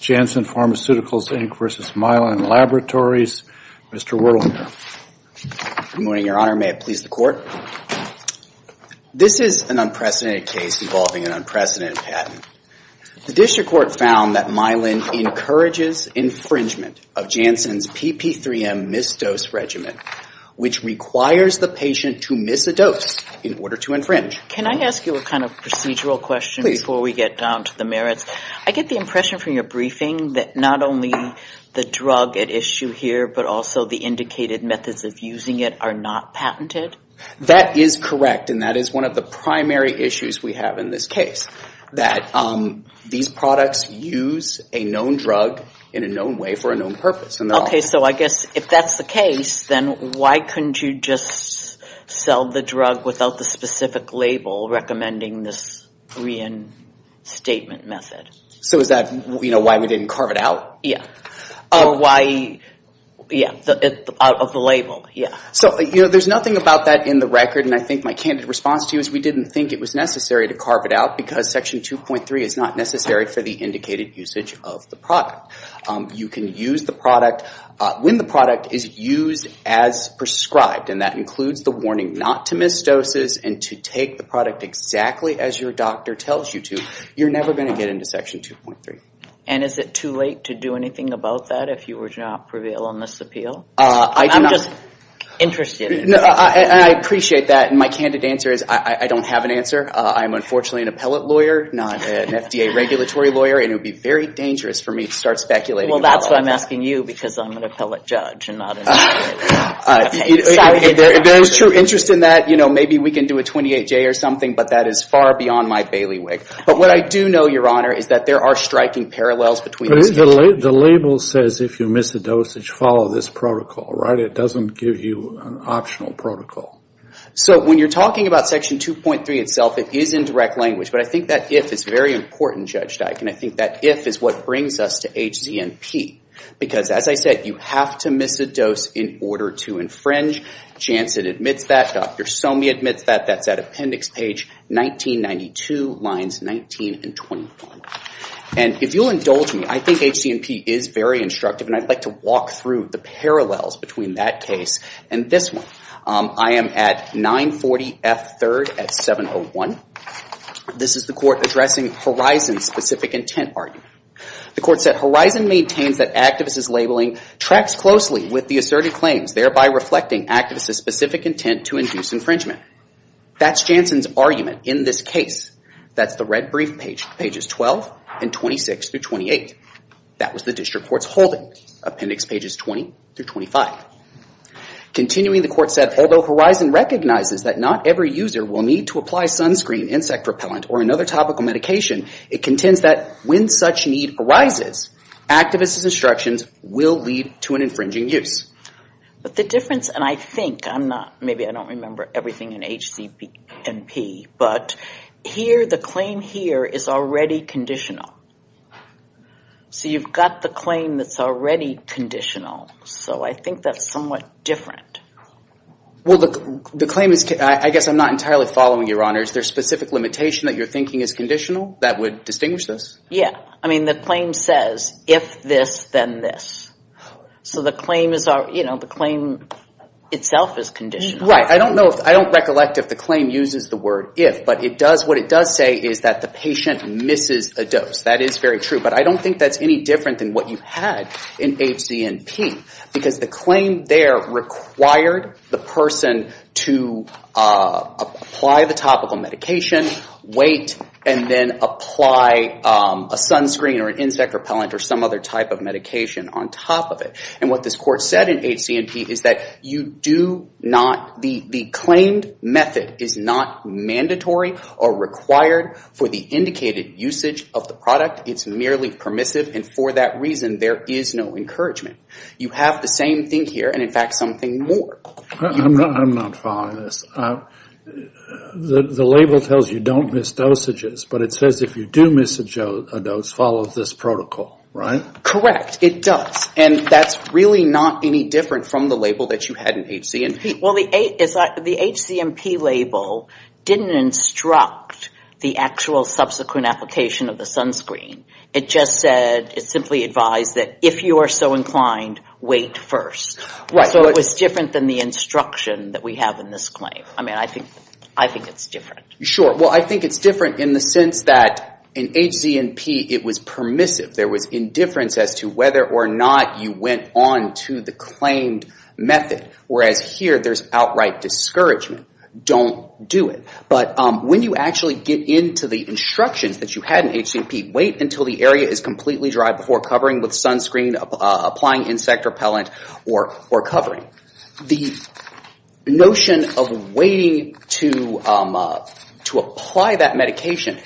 Janssen Pharmaceuticals, Inc. v. Mylan Laboratories, Mr. Wurlinger. Good morning, Your Honor. May it please the Court. This is an unprecedented case involving an unprecedented patent. The District Court found that Mylan encourages infringement of Janssen's PP3M missed-dose regimen, which requires the patient to miss a dose in order to infringe. Can I ask you a kind of procedural question before we get down to the merits? Please. I get the impression from your briefing that not only the drug at issue here, but also the indicated methods of using it are not patented? That is correct. And that is one of the primary issues we have in this case, that these products use a known drug in a known way for a known purpose. Okay. So I guess if that's the case, then why couldn't you just sell the drug without the specific So is that why we didn't carve it out? Or why, yeah, out of the label. Yeah. So, you know, there's nothing about that in the record, and I think my candid response to you is we didn't think it was necessary to carve it out because Section 2.3 is not necessary for the indicated usage of the product. You can use the product when the product is used as prescribed, and that includes the warning not to miss doses and to take the product exactly as your doctor tells you to. You're never going to get into Section 2.3. And is it too late to do anything about that if you were to not prevail on this appeal? I do not... I'm just interested in it. I appreciate that, and my candid answer is I don't have an answer. I'm unfortunately an appellate lawyer, not an FDA regulatory lawyer, and it would be very dangerous for me to start speculating about all of that. Well, that's why I'm asking you, because I'm an appellate judge and not an FDA. Sorry. There is true interest in that. You know, maybe we can do a 28-J or something, but that is far beyond my bailiwick. But what I do know, Your Honor, is that there are striking parallels between these cases. The label says if you miss a dosage, follow this protocol, right? It doesn't give you an optional protocol. So when you're talking about Section 2.3 itself, it is in direct language, but I think that if is very important, Judge Dyke, and I think that if is what brings us to HZNP, because as I said, you have to miss a dose in order to infringe. Janssen admits that. Dr. Somi admits that. That's at Appendix page 1992, lines 19 and 21. And if you'll indulge me, I think HZNP is very instructive, and I'd like to walk through the parallels between that case and this one. I am at 940F3rd at 701. This is the court addressing Horizon's specific intent argument. The court said, Horizon maintains that activists' labeling tracks closely with the asserted claims, thereby reflecting activists' specific intent to induce infringement. That's Janssen's argument in this case. That's the red brief pages 12 and 26 through 28. That was the district court's holding, Appendix pages 20 through 25. Continuing the court said, although Horizon recognizes that not every user will need to apply sunscreen, insect repellent, or another topical medication, it contends that when such need arises, activists' instructions will lead to an infringing use. But the difference, and I think, I'm not, maybe I don't remember everything in HZNP, but here, the claim here is already conditional. So you've got the claim that's already conditional. So I think that's somewhat different. Well, the claim is, I guess I'm not entirely following your honors. There's specific limitation that you're thinking is conditional that would distinguish this? Yeah. I mean, the claim says, if this, then this. So the claim is, you know, the claim itself is conditional. Right. I don't know if, I don't recollect if the claim uses the word if, but it does, what it does say is that the patient misses a dose. That is very true. But I don't think that's any different than what you had in HZNP. Because the claim there required the person to apply the topical medication, wait, and then apply a sunscreen or an insect repellent or some other type of medication on top of it. And what this court said in HZNP is that you do not, the claimed method is not mandatory or required for the indicated usage of the product. It's merely permissive. And for that reason, there is no encouragement. You have the same thing here, and in fact, something more. I'm not following this. The label tells you don't miss dosages, but it says if you do miss a dose, follow this protocol. Correct. It does. And that's really not any different from the label that you had in HZNP. Well, the HZNP label didn't instruct the actual subsequent application of the sunscreen. It just said, it simply advised that if you are so inclined, wait first. Right. So it was different than the instruction that we have in this claim. I mean, I think it's different. Sure. Well, I think it's different in the sense that in HZNP, it was permissive. There was indifference as to whether or not you went on to the claimed method, whereas here, there's outright discouragement. Don't do it. But when you actually get into the instructions that you had in HZNP, wait until the area is completely dry before covering with sunscreen, applying insect repellent, or covering. The notion of waiting to apply that medication,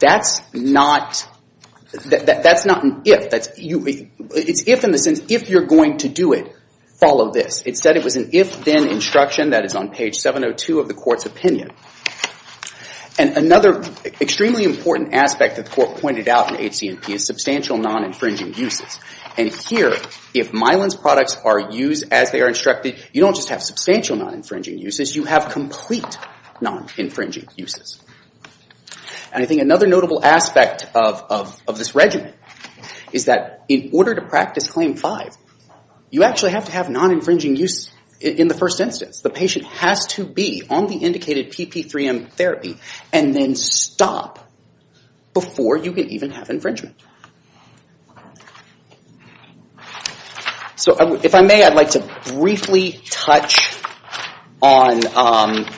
that's not an if. It's if in the sense, if you're going to do it, follow this. Instead, it was an if-then instruction that is on page 702 of the court's opinion. And another extremely important aspect that the court pointed out in HZNP is substantial non-infringing uses. And here, if Mylan's products are used as they are instructed, you don't just have substantial non-infringing uses. You have complete non-infringing uses. And I think another notable aspect of this regimen is that in order to practice Claim 5, you actually have to have non-infringing use in the first instance. The patient has to be on the indicated PP3M therapy and then stop before you can even have infringement. So if I may, I'd like to briefly touch on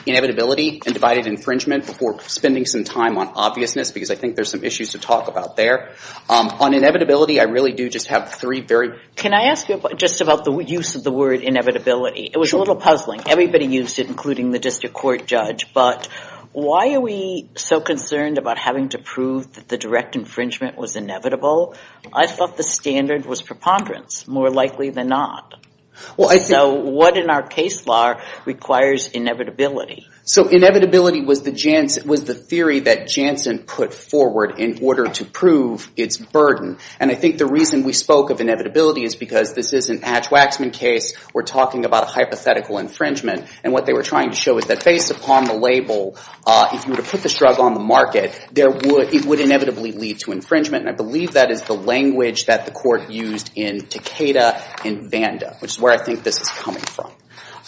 inevitability and divided infringement before spending some time on obviousness, because I think there's some issues to talk about there. On inevitability, I really do just have three very... Can I ask you just about the use of the word inevitability? It was a little puzzling. Everybody used it, including the district court judge. But why are we so concerned about having to prove that the direct infringement was inevitable? I thought the standard was preponderance, more likely than not. So what in our case law requires inevitability? So inevitability was the theory that Janssen put forward in order to prove its burden. And I think the reason we spoke of inevitability is because this is an Atch-Waxman case. We're talking about a hypothetical infringement, and what they were trying to show is that based upon the label, if you were to put this drug on the market, it would inevitably lead to infringement. And I believe that is the language that the court used in Takeda and Vanda, which is where I think this is coming from.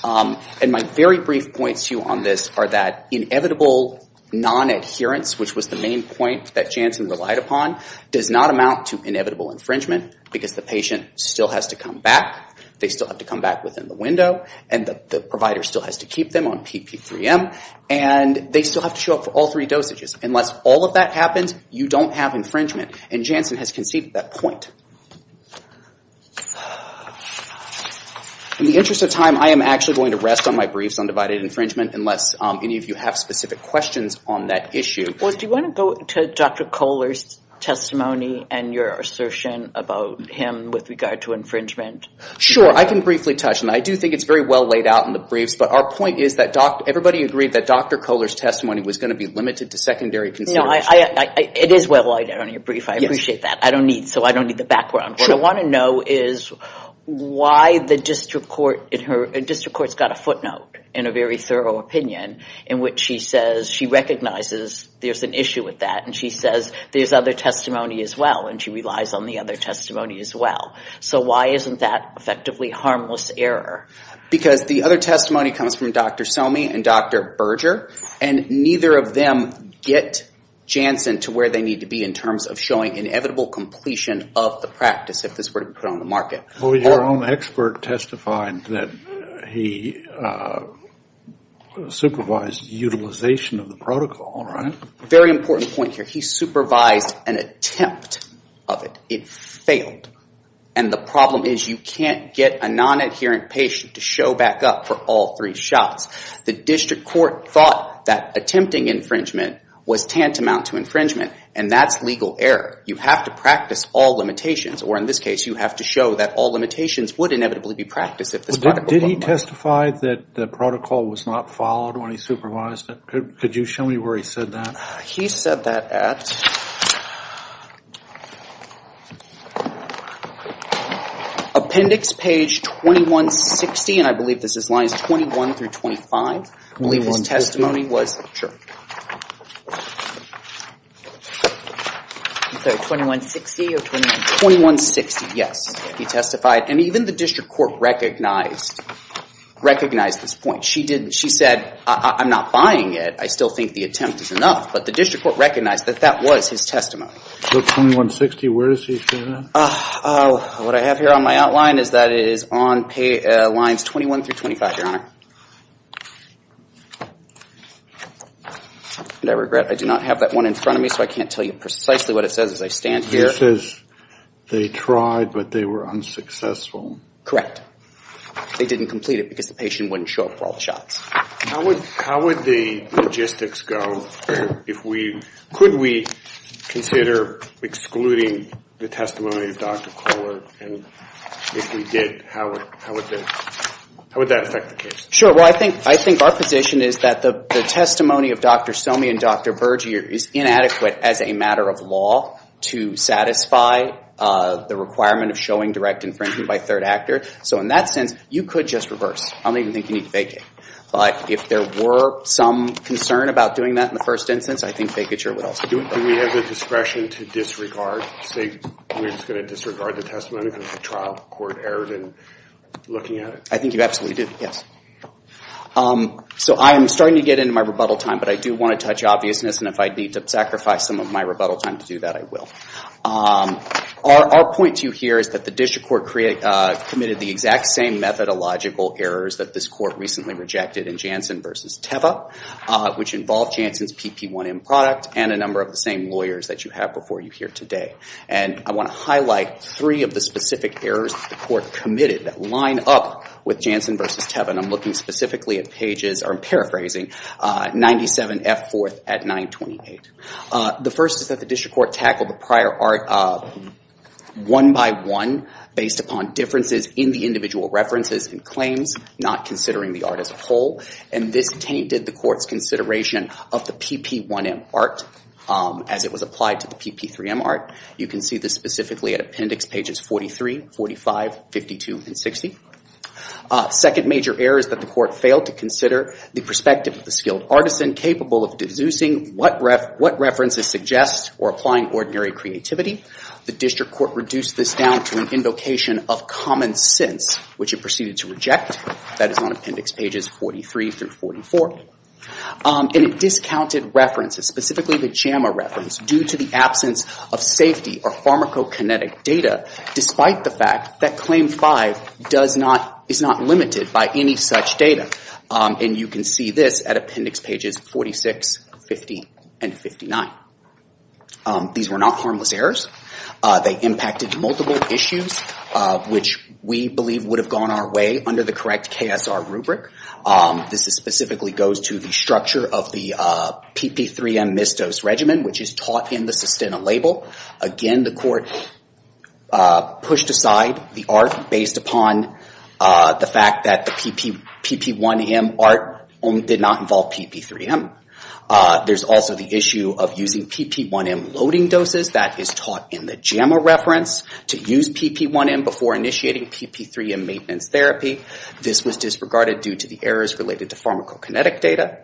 And my very brief points to you on this are that inevitable non-adherence, which was the main point that Janssen relied upon, does not amount to inevitable infringement, because the patient still has to come back, they still have to come back within the window, and the provider still has to keep them on PP3M, and they still have to show up for all three dosages. Unless all of that happens, you don't have infringement. And Janssen has conceived that point. In the interest of time, I am actually going to rest on my briefs on divided infringement unless any of you have specific questions on that issue. Well, do you want to go to Dr. Kohler's testimony and your assertion about him with regard to infringement? I can briefly touch on it. I do think it's very well laid out in the briefs. But our point is that everybody agreed that Dr. Kohler's testimony was going to be limited to secondary consideration. No, it is well laid out in your brief. I appreciate that. I don't need, so I don't need the background. Sure. What I want to know is why the district court in her, the district court's got a footnote in a very thorough opinion in which she says she recognizes there's an issue with that and she says there's other testimony as well and she relies on the other testimony as well. So why isn't that effectively harmless error? Because the other testimony comes from Dr. Somi and Dr. Berger and neither of them get Janssen to where they need to be in terms of showing inevitable completion of the practice if this were to be put on the market. Well, your own expert testified that he supervised utilization of the protocol, right? Very important point here. He supervised an attempt of it. It failed. And the problem is you can't get a non-adherent patient to show back up for all three shots. The district court thought that attempting infringement was tantamount to infringement and that's legal error. You have to practice all limitations or in this case, you have to show that all limitations would inevitably be practiced if this were to be put on the market. Did he testify that the protocol was not followed when he supervised it? Could you show me where he said that? He said that at Appendix Page 2160 and I believe this is lines 21 through 25, I believe his testimony was. 2160, yes, he testified and even the district court recognized this point. She said, I'm not buying it. I still think the attempt is enough, but the district court recognized that that was his testimony. 2160, where does he say that? What I have here on my outline is that it is on lines 21 through 25, Your Honor. And I regret I do not have that one in front of me, so I can't tell you precisely what it says as I stand here. It says they tried, but they were unsuccessful. Correct. They didn't complete it because the patient wouldn't show up for all the shots. How would the logistics go if we, could we consider excluding the testimony of Dr. Kohler? And if we did, how would that affect the case? Sure. Well, I think our position is that the testimony of Dr. Somi and Dr. Berger is inadequate as a matter of law to satisfy the requirement of showing direct infringement by third actor. So in that sense, you could just reverse. I don't even think you need to vacate. But if there were some concern about doing that in the first instance, I think vacature would also be appropriate. Do we have the discretion to disregard, say, we're just going to disregard the testimony because the trial court erred in looking at it? I think you absolutely did, yes. So I am starting to get into my rebuttal time, but I do want to touch obviousness. And if I need to sacrifice some of my rebuttal time to do that, I will. Our point to you here is that the district court committed the exact same methodological errors that this court recently rejected in Jansen v. Teva, which involved Jansen's PP1M product and a number of the same lawyers that you have before you here today. And I want to highlight three of the specific errors that the court committed that line up with Jansen v. Teva. And I'm looking specifically at pages, or I'm paraphrasing, 97F4 at 928. The first is that the district court tackled the prior art one by one, based upon differences in the individual references and claims, not considering the art as a whole. And this tainted the court's consideration of the PP1M art as it was applied to the PP3M art. You can see this specifically at appendix pages 43, 45, 52, and 60. Second major error is that the court failed to consider the perspective of the skilled artisan capable of deducing what references suggest or applying ordinary creativity. The district court reduced this down to an invocation of common sense, which it proceeded to reject. That is on appendix pages 43 through 44. And it discounted references, specifically the JAMA reference, due to the absence of safety or pharmacokinetic data, despite the fact that claim five is not limited by any such data. And you can see this at appendix pages 46, 50, and 59. These were not harmless errors. They impacted multiple issues, which we believe would have gone our way under the correct KSR rubric. This specifically goes to the structure of the PP3M misdose regimen, which is taught in the Sistina label. Again, the court pushed aside the art based upon the fact that the PP1M art did not involve PP3M. There's also the issue of using PP1M loading doses. That is taught in the JAMA reference to use PP1M before initiating PP3M maintenance therapy. This was disregarded due to the errors related to pharmacokinetic data.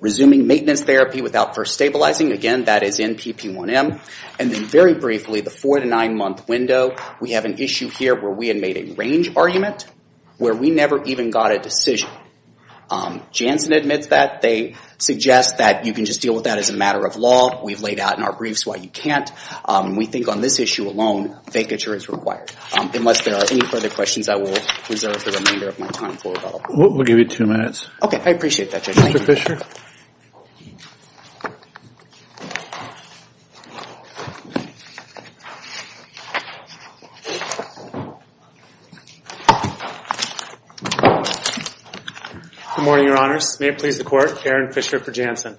Resuming maintenance therapy without first stabilizing. Again, that is in PP1M. And then very briefly, the four- to nine-month window, we have an issue here where we had made a range argument where we never even got a decision. Jansen admits that. They suggest that you can just deal with that as a matter of law. We've laid out in our briefs why you can't. We think on this issue alone, vacature is required. Unless there are any further questions, I will reserve the remainder of my time for rebuttal. We'll give you two minutes. Okay. I appreciate that, Judge. Thank you, Mr. Fisher. Good morning, Your Honors. May it please the Court, Aaron Fisher for Jansen.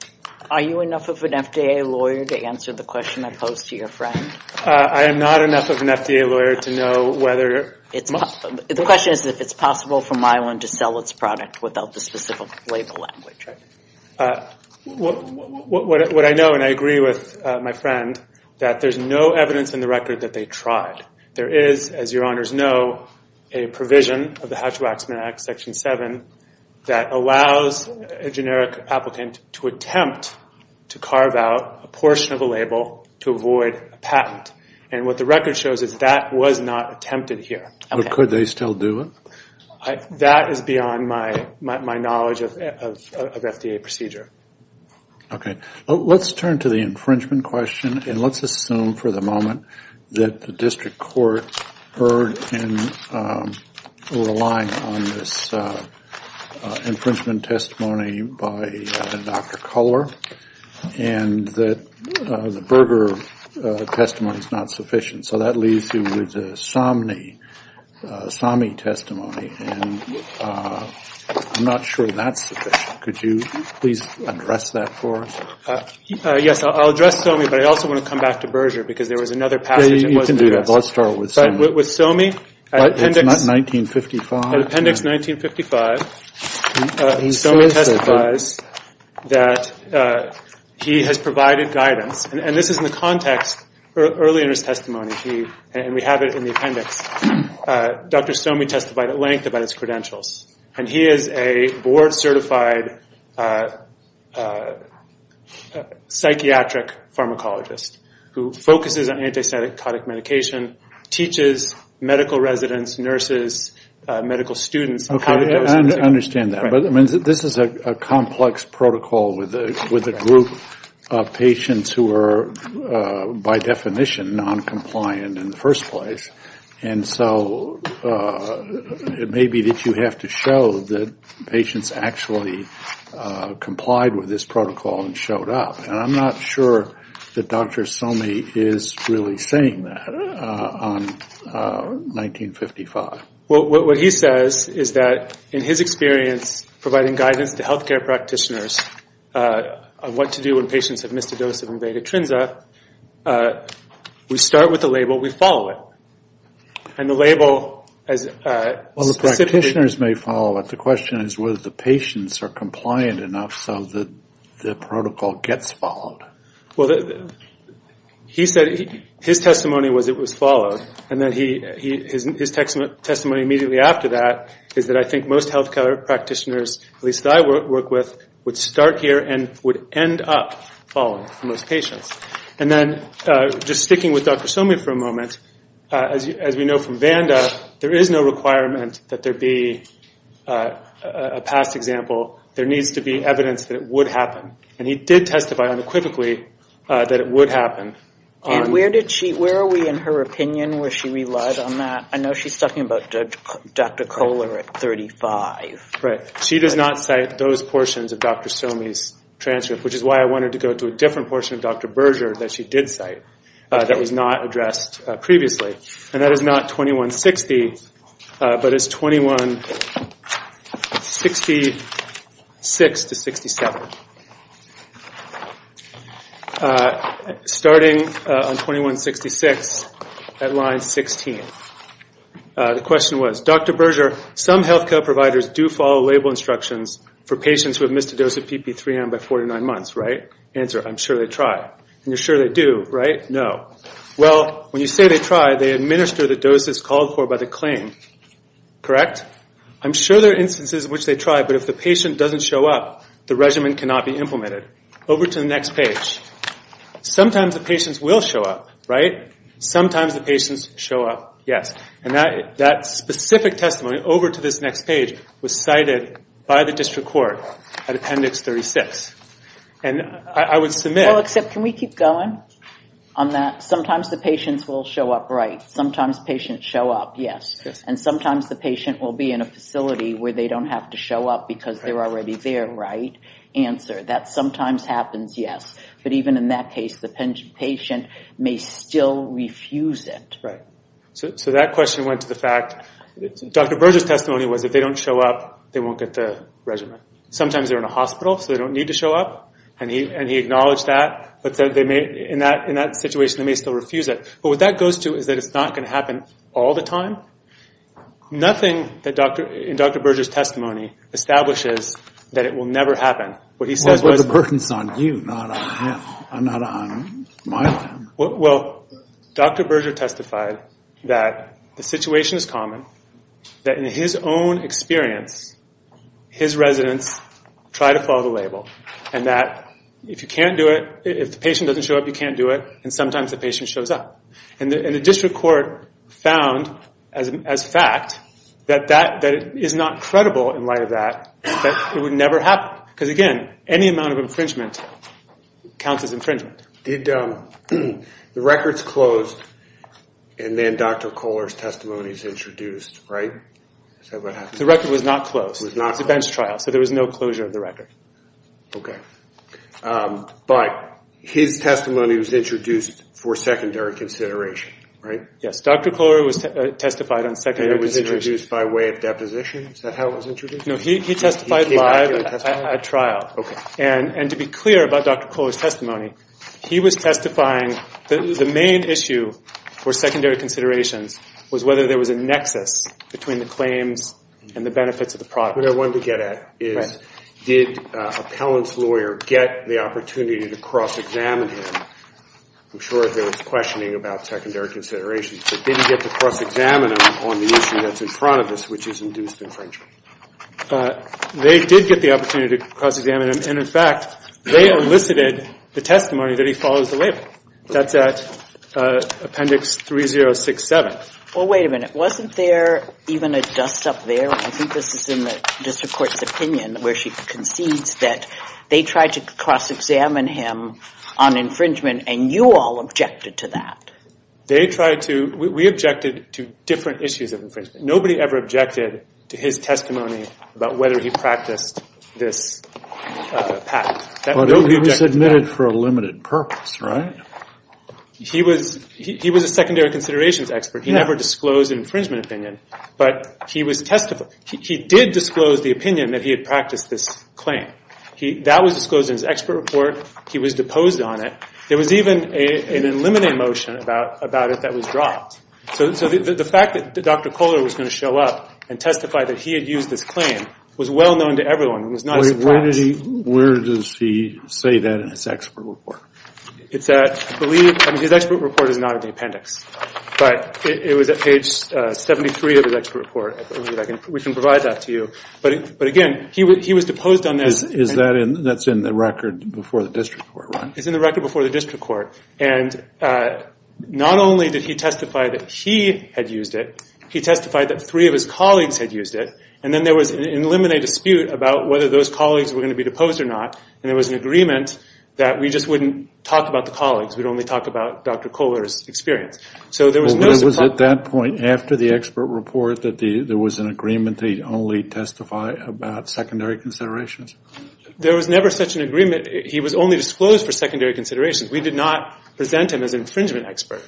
Are you enough of an FDA lawyer to answer the question I posed to your friend? I am not enough of an FDA lawyer to know whether. The question is if it's possible for Myelin to sell its product without the specific label language. What I know, and I agree with my friend, that there's no evidence in the record that they tried. There is, as Your Honors know, a provision of the Hatch-Waxman Act, Section 7, that allows a generic applicant to attempt to carve out a portion of a label to avoid a patent. And what the record shows is that was not attempted here. But could they still do it? That is beyond my knowledge of FDA procedure. Okay. Let's turn to the infringement question, and let's assume for the moment that the district court can rely on this infringement testimony by Dr. Culler, and that the Berger testimony is not sufficient. So that leaves you with the Somney testimony, and I'm not sure that's sufficient. Could you please address that for us? Yes, I'll address Somney, but I also want to come back to Berger because there was another passage that wasn't addressed. You can do that. Let's start with Somney. With Somney, appendix 1955, Somney testifies that he has provided guidance, and this is in the context early in his testimony, and we have it in the appendix. Dr. Somney testified at length about his credentials, and he is a board-certified psychiatric pharmacologist who focuses on antipsychotic medication, teaches medical residents, nurses, medical students how to do it. I understand that. This is a complex protocol with a group of patients who are, by definition, noncompliant in the first place, and so it may be that you have to show that patients actually complied with this protocol and showed up, and I'm not sure that Dr. Somney is really saying that on 1955. What he says is that, in his experience, providing guidance to health care practitioners on what to do when patients have missed a dose of invaded atrenza, we start with the label, we follow it. And the label as a specific... Well, the practitioners may follow it. The question is whether the patients are compliant enough so that the protocol gets followed. Well, he said his testimony was it was followed, and his testimony immediately after that is that I think most health care practitioners, at least that I work with, would start here and would end up following for most patients. And then, just sticking with Dr. Somney for a moment, as we know from Vanda, there is no requirement that there be a past example. There needs to be evidence that it would happen. And he did testify unequivocally that it would happen. And where are we in her opinion? Was she relied on that? I know she's talking about Dr. Kohler at 35. Right. She does not cite those portions of Dr. Somney's transcript, which is why I wanted to go to a different portion of Dr. Berger that she did cite that was not addressed previously. And that is not 2160, but it's 2166-67. Starting on 2166 at line 16. The question was, Dr. Berger, some health care providers do follow label instructions for patients who have missed a dose of PP3M by 49 months, right? Answer, I'm sure they try. And you're sure they do, right? No. Well, when you say they try, they administer the doses called for by the claim, correct? I'm sure there are instances in which they try, but if the patient doesn't show up, the regimen cannot be implemented. Over to the next page. Sometimes the patients will show up, right? Sometimes the patients show up, yes. And that specific testimony, over to this next page, was cited by the district court at Appendix 36. And I would submit... No, except can we keep going on that? Sometimes the patients will show up, right? Sometimes patients show up, yes. And sometimes the patient will be in a facility where they don't have to show up because they're already there, right? Answer, that sometimes happens, yes. But even in that case, the patient may still refuse it. Right. So that question went to the fact, Dr. Berger's testimony was if they don't show up, they won't get the regimen. Sometimes they're in a hospital, so they don't need to show up, and he acknowledged that. But in that situation, they may still refuse it. But what that goes to is that it's not going to happen all the time. Nothing in Dr. Berger's testimony establishes that it will never happen. What he says was... Well, the burden's on you, not on my family. Well, Dr. Berger testified that the situation is common, that in his own experience, his residents try to follow the label, and that if you can't do it, if the patient doesn't show up, you can't do it, and sometimes the patient shows up. And the district court found, as fact, that that is not credible in light of that, that it would never happen. Because, again, any amount of infringement counts as infringement. Did the records close, and then Dr. Kohler's testimony is introduced, right? The record was not closed. It was a bench trial, so there was no closure of the record. But his testimony was introduced for secondary consideration, right? Yes. Dr. Kohler was testified on secondary consideration. And it was introduced by way of deposition? Is that how it was introduced? No, he testified live at trial. Okay. And to be clear about Dr. Kohler's testimony, he was testifying that the main issue for secondary considerations was whether there was a nexus between the claims and the benefits of the product. What I wanted to get at is, did an appellant's lawyer get the opportunity to cross-examine him? I'm sure there was questioning about secondary considerations, but did he get to cross-examine him on the issue that's in front of us, which is induced infringement? They did get the opportunity to cross-examine him, and, in fact, they elicited the testimony that he follows the label. That's at Appendix 3067. Well, wait a minute. Wasn't there even a dust-up there, and I think this is in the district court's opinion where she concedes, that they tried to cross-examine him on infringement, and you all objected to that? They tried to. We objected to different issues of infringement. Nobody ever objected to his testimony about whether he practiced this patent. But he was admitted for a limited purpose, right? He was a secondary considerations expert. He never disclosed an infringement opinion, but he did disclose the opinion that he had practiced this claim. That was disclosed in his expert report. He was deposed on it. There was even an eliminating motion about it that was dropped. So the fact that Dr. Kohler was going to show up and testify that he had used this claim was well known to everyone. Where does he say that in his expert report? His expert report is not in the appendix, but it was at page 73 of his expert report. We can provide that to you. But, again, he was deposed on that. That's in the record before the district court, right? It's in the record before the district court. And not only did he testify that he had used it, he testified that three of his colleagues had used it, and then there was an eliminate dispute about whether those colleagues were going to be deposed or not, and there was an agreement that we just wouldn't talk about the colleagues. We'd only talk about Dr. Kohler's experience. So there was no... It was at that point after the expert report that there was an agreement that he'd only testify about secondary considerations? There was never such an agreement. He was only disclosed for secondary considerations. We did not present him as an infringement expert.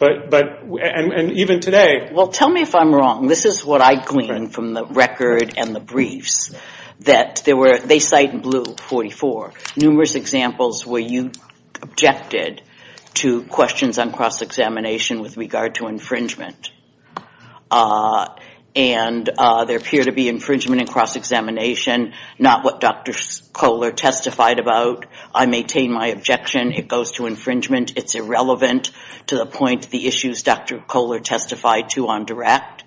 And even today... Well, tell me if I'm wrong. This is what I gleaned from the record and the briefs. They cite in blue 44, numerous examples where you objected to questions on cross-examination with regard to infringement. And there appeared to be infringement in cross-examination, not what Dr. Kohler testified about. I maintain my objection. It goes to infringement. It's irrelevant to the point the issues Dr. Kohler testified to on direct.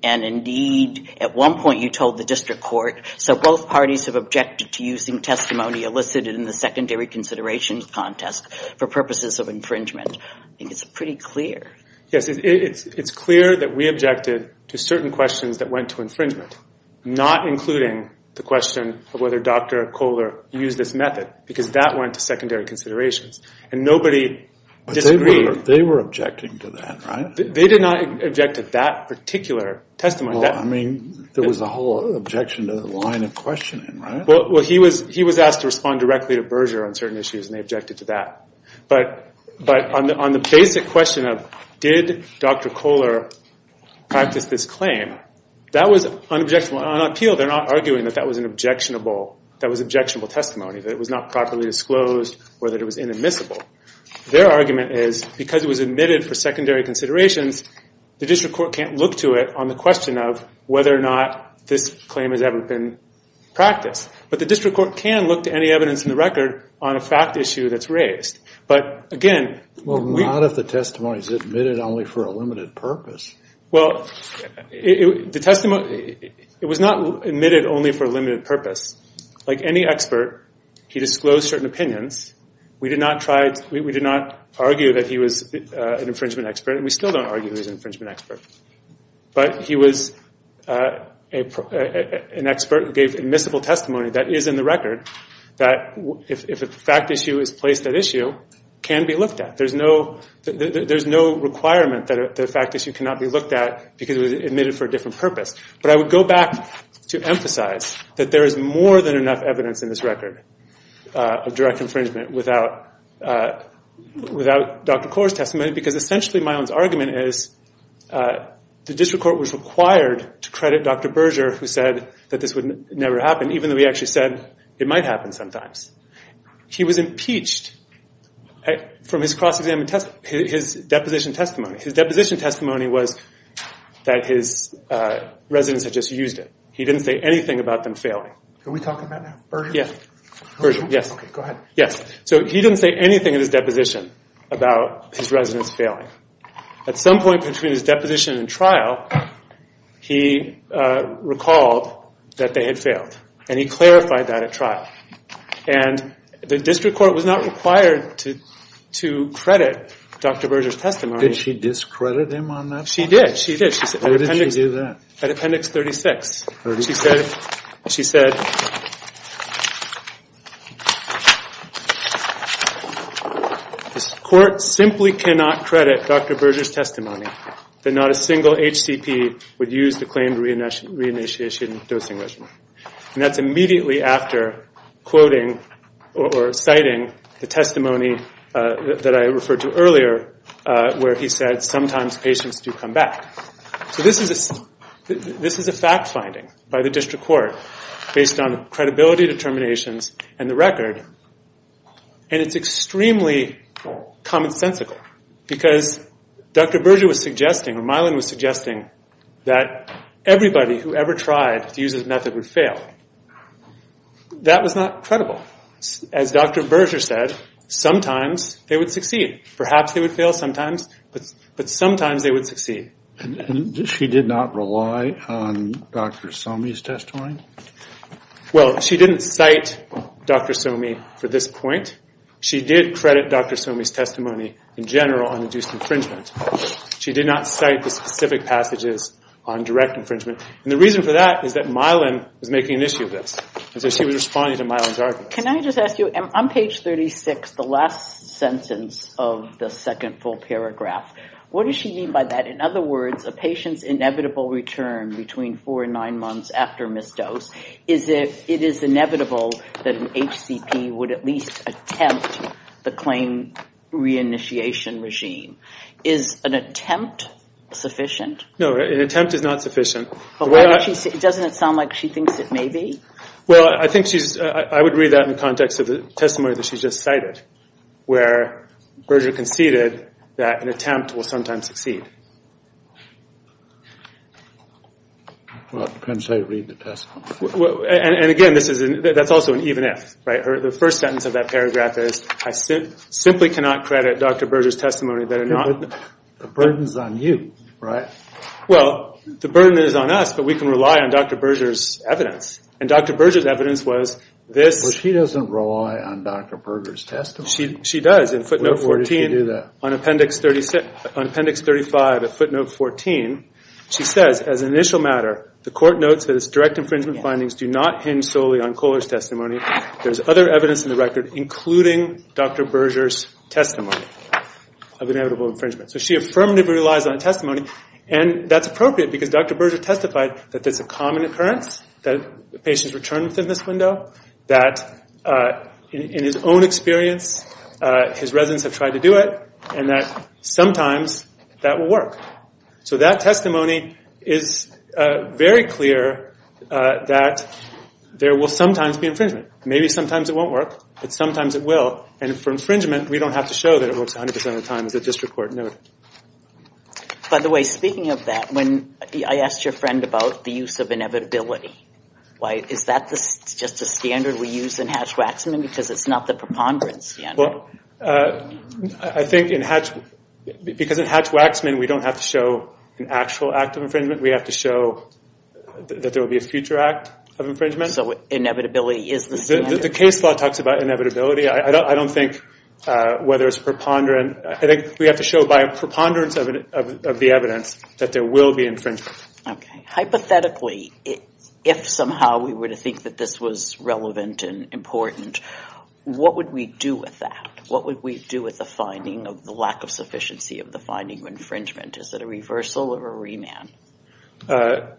And, indeed, at one point you told the district court, so both parties have objected to using testimony elicited in the secondary considerations contest for purposes of infringement. I think it's pretty clear. Yes, it's clear that we objected to certain questions that went to infringement, not including the question of whether Dr. Kohler used this method because that went to secondary considerations. And nobody disagreed. But they were objecting to that, right? They did not object to that particular testimony. I mean, there was a whole objection to the line of questioning, right? Well, he was asked to respond directly to Berger on certain issues, and they objected to that. But on the basic question of did Dr. Kohler practice this claim, that was unobjectionable. On appeal, they're not arguing that that was an objectionable testimony, that it was not properly disclosed or that it was inadmissible. Their argument is because it was admitted for secondary considerations, the district court can't look to it on the question of whether or not this claim has ever been practiced. But the district court can look to any evidence in the record on a fact issue that's raised. But, again, we – Well, not if the testimony is admitted only for a limited purpose. Well, the testimony – it was not admitted only for a limited purpose. Like any expert, he disclosed certain opinions. We did not argue that he was an infringement expert, and we still don't argue he was an infringement expert. But he was an expert who gave admissible testimony that is in the record that if a fact issue is placed at issue, can be looked at. There's no requirement that a fact issue cannot be looked at because it was admitted for a different purpose. But I would go back to emphasize that there is more than enough evidence in this record of direct infringement without Dr. Corr's testimony because, essentially, Milan's argument is the district court was required to credit Dr. Berger, who said that this would never happen, even though he actually said it might happen sometimes. He was impeached from his cross-examination – his deposition testimony. His deposition testimony was that his residents had just used it. He didn't say anything about them failing. Are we talking about Berger? Yes. Berger, yes. Okay, go ahead. Yes. So he didn't say anything in his deposition about his residents failing. At some point between his deposition and trial, he recalled that they had failed, and he clarified that at trial. And the district court was not required to credit Dr. Berger's testimony. Did she discredit him on that point? She did. She did. Where did she do that? At Appendix 36. She said, this court simply cannot credit Dr. Berger's testimony that not a single HCP would use the claimed re-initiation dosing regimen. And that's immediately after quoting or citing the testimony that I referred to earlier where he said, sometimes patients do come back. So this is a fact-finding by the district court based on credibility determinations and the record, and it's extremely commonsensical because Dr. Berger was suggesting, or Mylan was suggesting, that everybody who ever tried to use this method would fail. That was not credible. As Dr. Berger said, sometimes they would succeed. Perhaps they would fail sometimes, but sometimes they would succeed. She did not rely on Dr. Somi's testimony? Well, she didn't cite Dr. Somi for this point. She did credit Dr. Somi's testimony in general on induced infringement. She did not cite the specific passages on direct infringement. And the reason for that is that Mylan was making an issue of this, and so she was responding to Mylan's argument. Can I just ask you, on page 36, the last sentence of the second full paragraph, what does she mean by that? In other words, a patient's inevitable return between four and nine months after misdose, it is inevitable that an HCP would at least attempt the claim reinitiation regime. Is an attempt sufficient? No, an attempt is not sufficient. Doesn't it sound like she thinks it may be? Well, I would read that in the context of the testimony that she just cited, where Berger conceded that an attempt will sometimes succeed. Well, it depends how you read the testimony. And, again, that's also an even if. The first sentence of that paragraph is, I simply cannot credit Dr. Berger's testimony that are not— The burden is on you, right? Well, the burden is on us, but we can rely on Dr. Berger's evidence. And Dr. Berger's evidence was this— But she doesn't rely on Dr. Berger's testimony. She does. Where did she do that? In footnote 14, on appendix 35 of footnote 14. She says, as an initial matter, the court notes that its direct infringement findings do not hinge solely on Kohler's testimony. There's other evidence in the record, including Dr. Berger's testimony of inevitable infringement. So she affirmatively relies on testimony, and that's appropriate because Dr. Berger testified that it's a common occurrence that patients return within this window, that in his own experience his residents have tried to do it, and that sometimes that will work. So that testimony is very clear that there will sometimes be infringement. Maybe sometimes it won't work, but sometimes it will. And for infringement, we don't have to show that it works 100% of the time. It's a district court note. By the way, speaking of that, I asked your friend about the use of inevitability. Is that just a standard we use in Hatch-Waxman because it's not the preponderance? Well, I think in Hatch—because in Hatch-Waxman, we don't have to show an actual act of infringement. We have to show that there will be a future act of infringement. So inevitability is the standard. The case law talks about inevitability. I don't think whether it's preponderant— I think we have to show by preponderance of the evidence that there will be infringement. Okay. Hypothetically, if somehow we were to think that this was relevant and important, what would we do with that? What would we do with the finding of the lack of sufficiency of the finding of infringement? Is it a reversal or a remand? Well,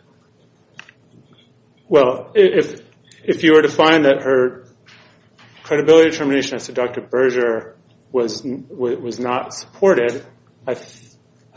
if you were to find that her credibility determination as to Dr. Berger was not supported, I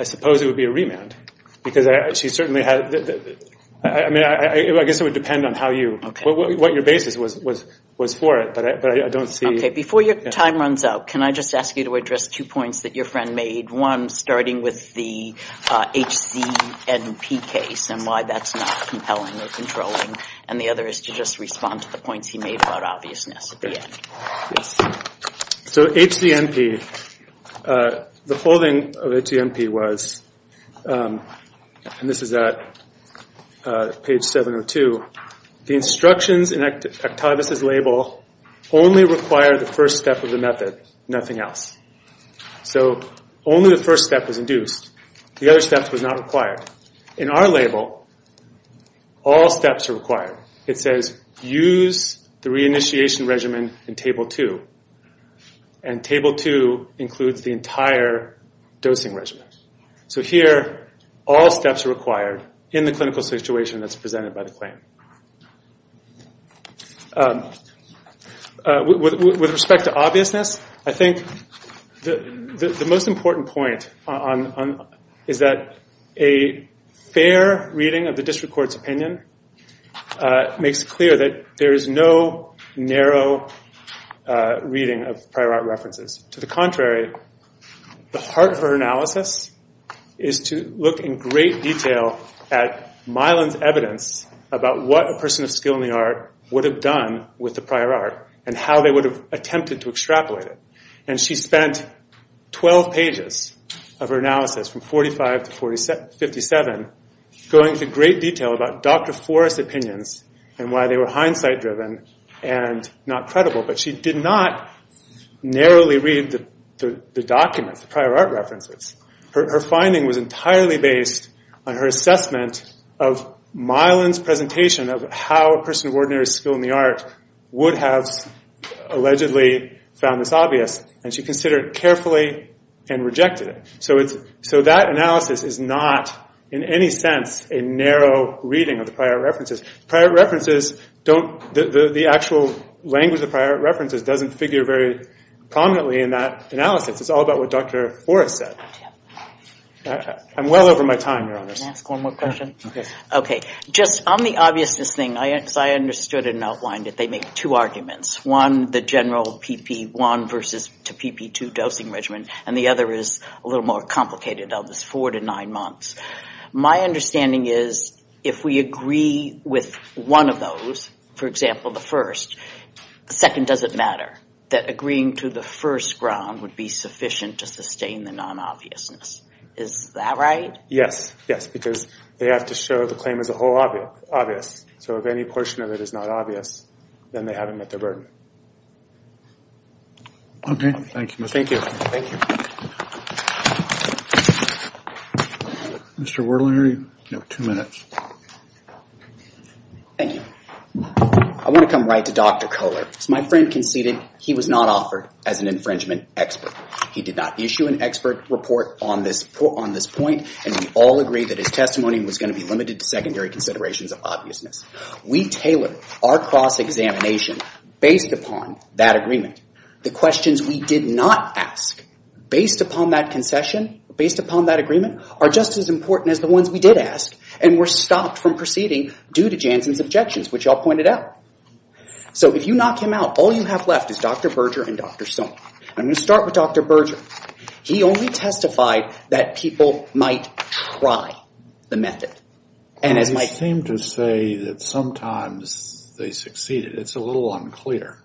suppose it would be a remand. Because she certainly had—I mean, I guess it would depend on how you— what your basis was for it, but I don't see— Okay. Before your time runs out, can I just ask you to address two points that your friend made? One, starting with the HCNP case and why that's not compelling or controlling. And the other is to just respond to the points he made about obviousness at the end. So HCNP, the holding of HCNP was—and this is at page 702— the instructions in Octavius' label only require the first step of the method, nothing else. So only the first step was induced. The other steps were not required. In our label, all steps are required. It says, use the reinitiation regimen in Table 2. And Table 2 includes the entire dosing regimen. So here, all steps are required in the clinical situation that's presented by the claim. With respect to obviousness, I think the most important point is that a fair reading of the district court's opinion makes it clear that there is no narrow reading of prior art references. To the contrary, the heart of her analysis is to look in great detail at Milan's evidence about what a person of skill in the art would have done with the prior art and how they would have attempted to extrapolate it. And she spent 12 pages of her analysis, from 45 to 57, going into great detail about Dr. Forrest's opinions and why they were hindsight-driven and not credible. But she did not narrowly read the documents, the prior art references. Her finding was entirely based on her assessment of Milan's presentation of how a person of ordinary skill in the art would have allegedly found this obvious. And she considered it carefully and rejected it. So that analysis is not, in any sense, a narrow reading of the prior art references. The actual language of prior art references doesn't figure very prominently in that analysis. It's all about what Dr. Forrest said. I'm well over my time, Your Honors. Can I ask one more question? Okay. Just on the obviousness thing, as I understood and outlined it, they make two arguments. One, the general PP1 versus PP2 dosing regimen, and the other is a little more complicated. It's four to nine months. My understanding is if we agree with one of those, for example, the first, the second doesn't matter. That agreeing to the first ground would be sufficient to sustain the non-obviousness. Is that right? Yes. Yes, because they have to show the claim as a whole obvious. So if any portion of it is not obvious, then they haven't met their burden. Okay. Thank you. Thank you. Thank you. Mr. Werleher, you have two minutes. Thank you. I want to come right to Dr. Kohler. As my friend conceded, he was not offered as an infringement expert. He did not issue an expert report on this point, and we all agree that his testimony was going to be limited to secondary considerations of obviousness. We tailored our cross-examination based upon that agreement. The questions we did not ask based upon that concession, based upon that agreement, are just as important as the ones we did ask and were stopped from proceeding due to Janssen's objections, which I'll point out. So if you knock him out, all you have left is Dr. Berger and Dr. Sohn. I'm going to start with Dr. Berger. He only testified that people might try the method. You seem to say that sometimes they succeeded. It's a little unclear.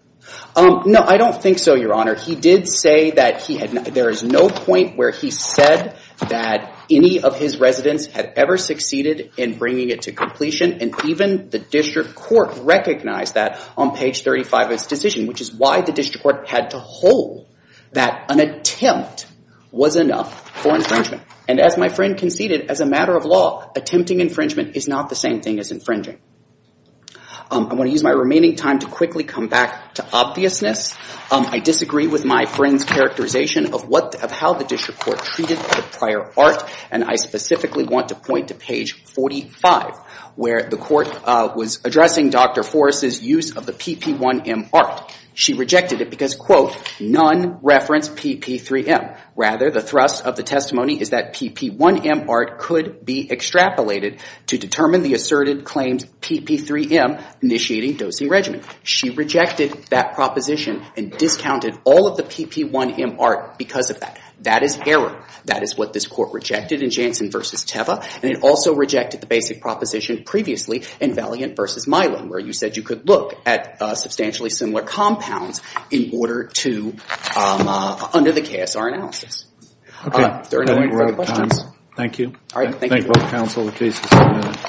No, I don't think so, Your Honor. He did say that there is no point where he said that any of his residents had ever succeeded in bringing it to completion, and even the district court recognized that on page 35 of his decision, which is why the district court had to hold that an attempt was enough for infringement. And as my friend conceded, as a matter of law, attempting infringement is not the same thing as infringing. I'm going to use my remaining time to quickly come back to obviousness. I disagree with my friend's characterization of how the district court treated the prior art, and I specifically want to point to page 45, where the court was addressing Dr. Forrest's use of the PP1M art. She rejected it because, quote, none reference PP3M. Rather, the thrust of the testimony is that PP1M art could be extrapolated to determine the asserted claims PP3M initiating dosing regimen. She rejected that proposition and discounted all of the PP1M art because of that. That is error. That is what this court rejected in Jansen v. Teva, and it also rejected the basic proposition previously in Valiant v. Milan, where you said you could look at substantially similar compounds in order to, under the KSR analysis. If there are no further questions. Thank you. Thank you.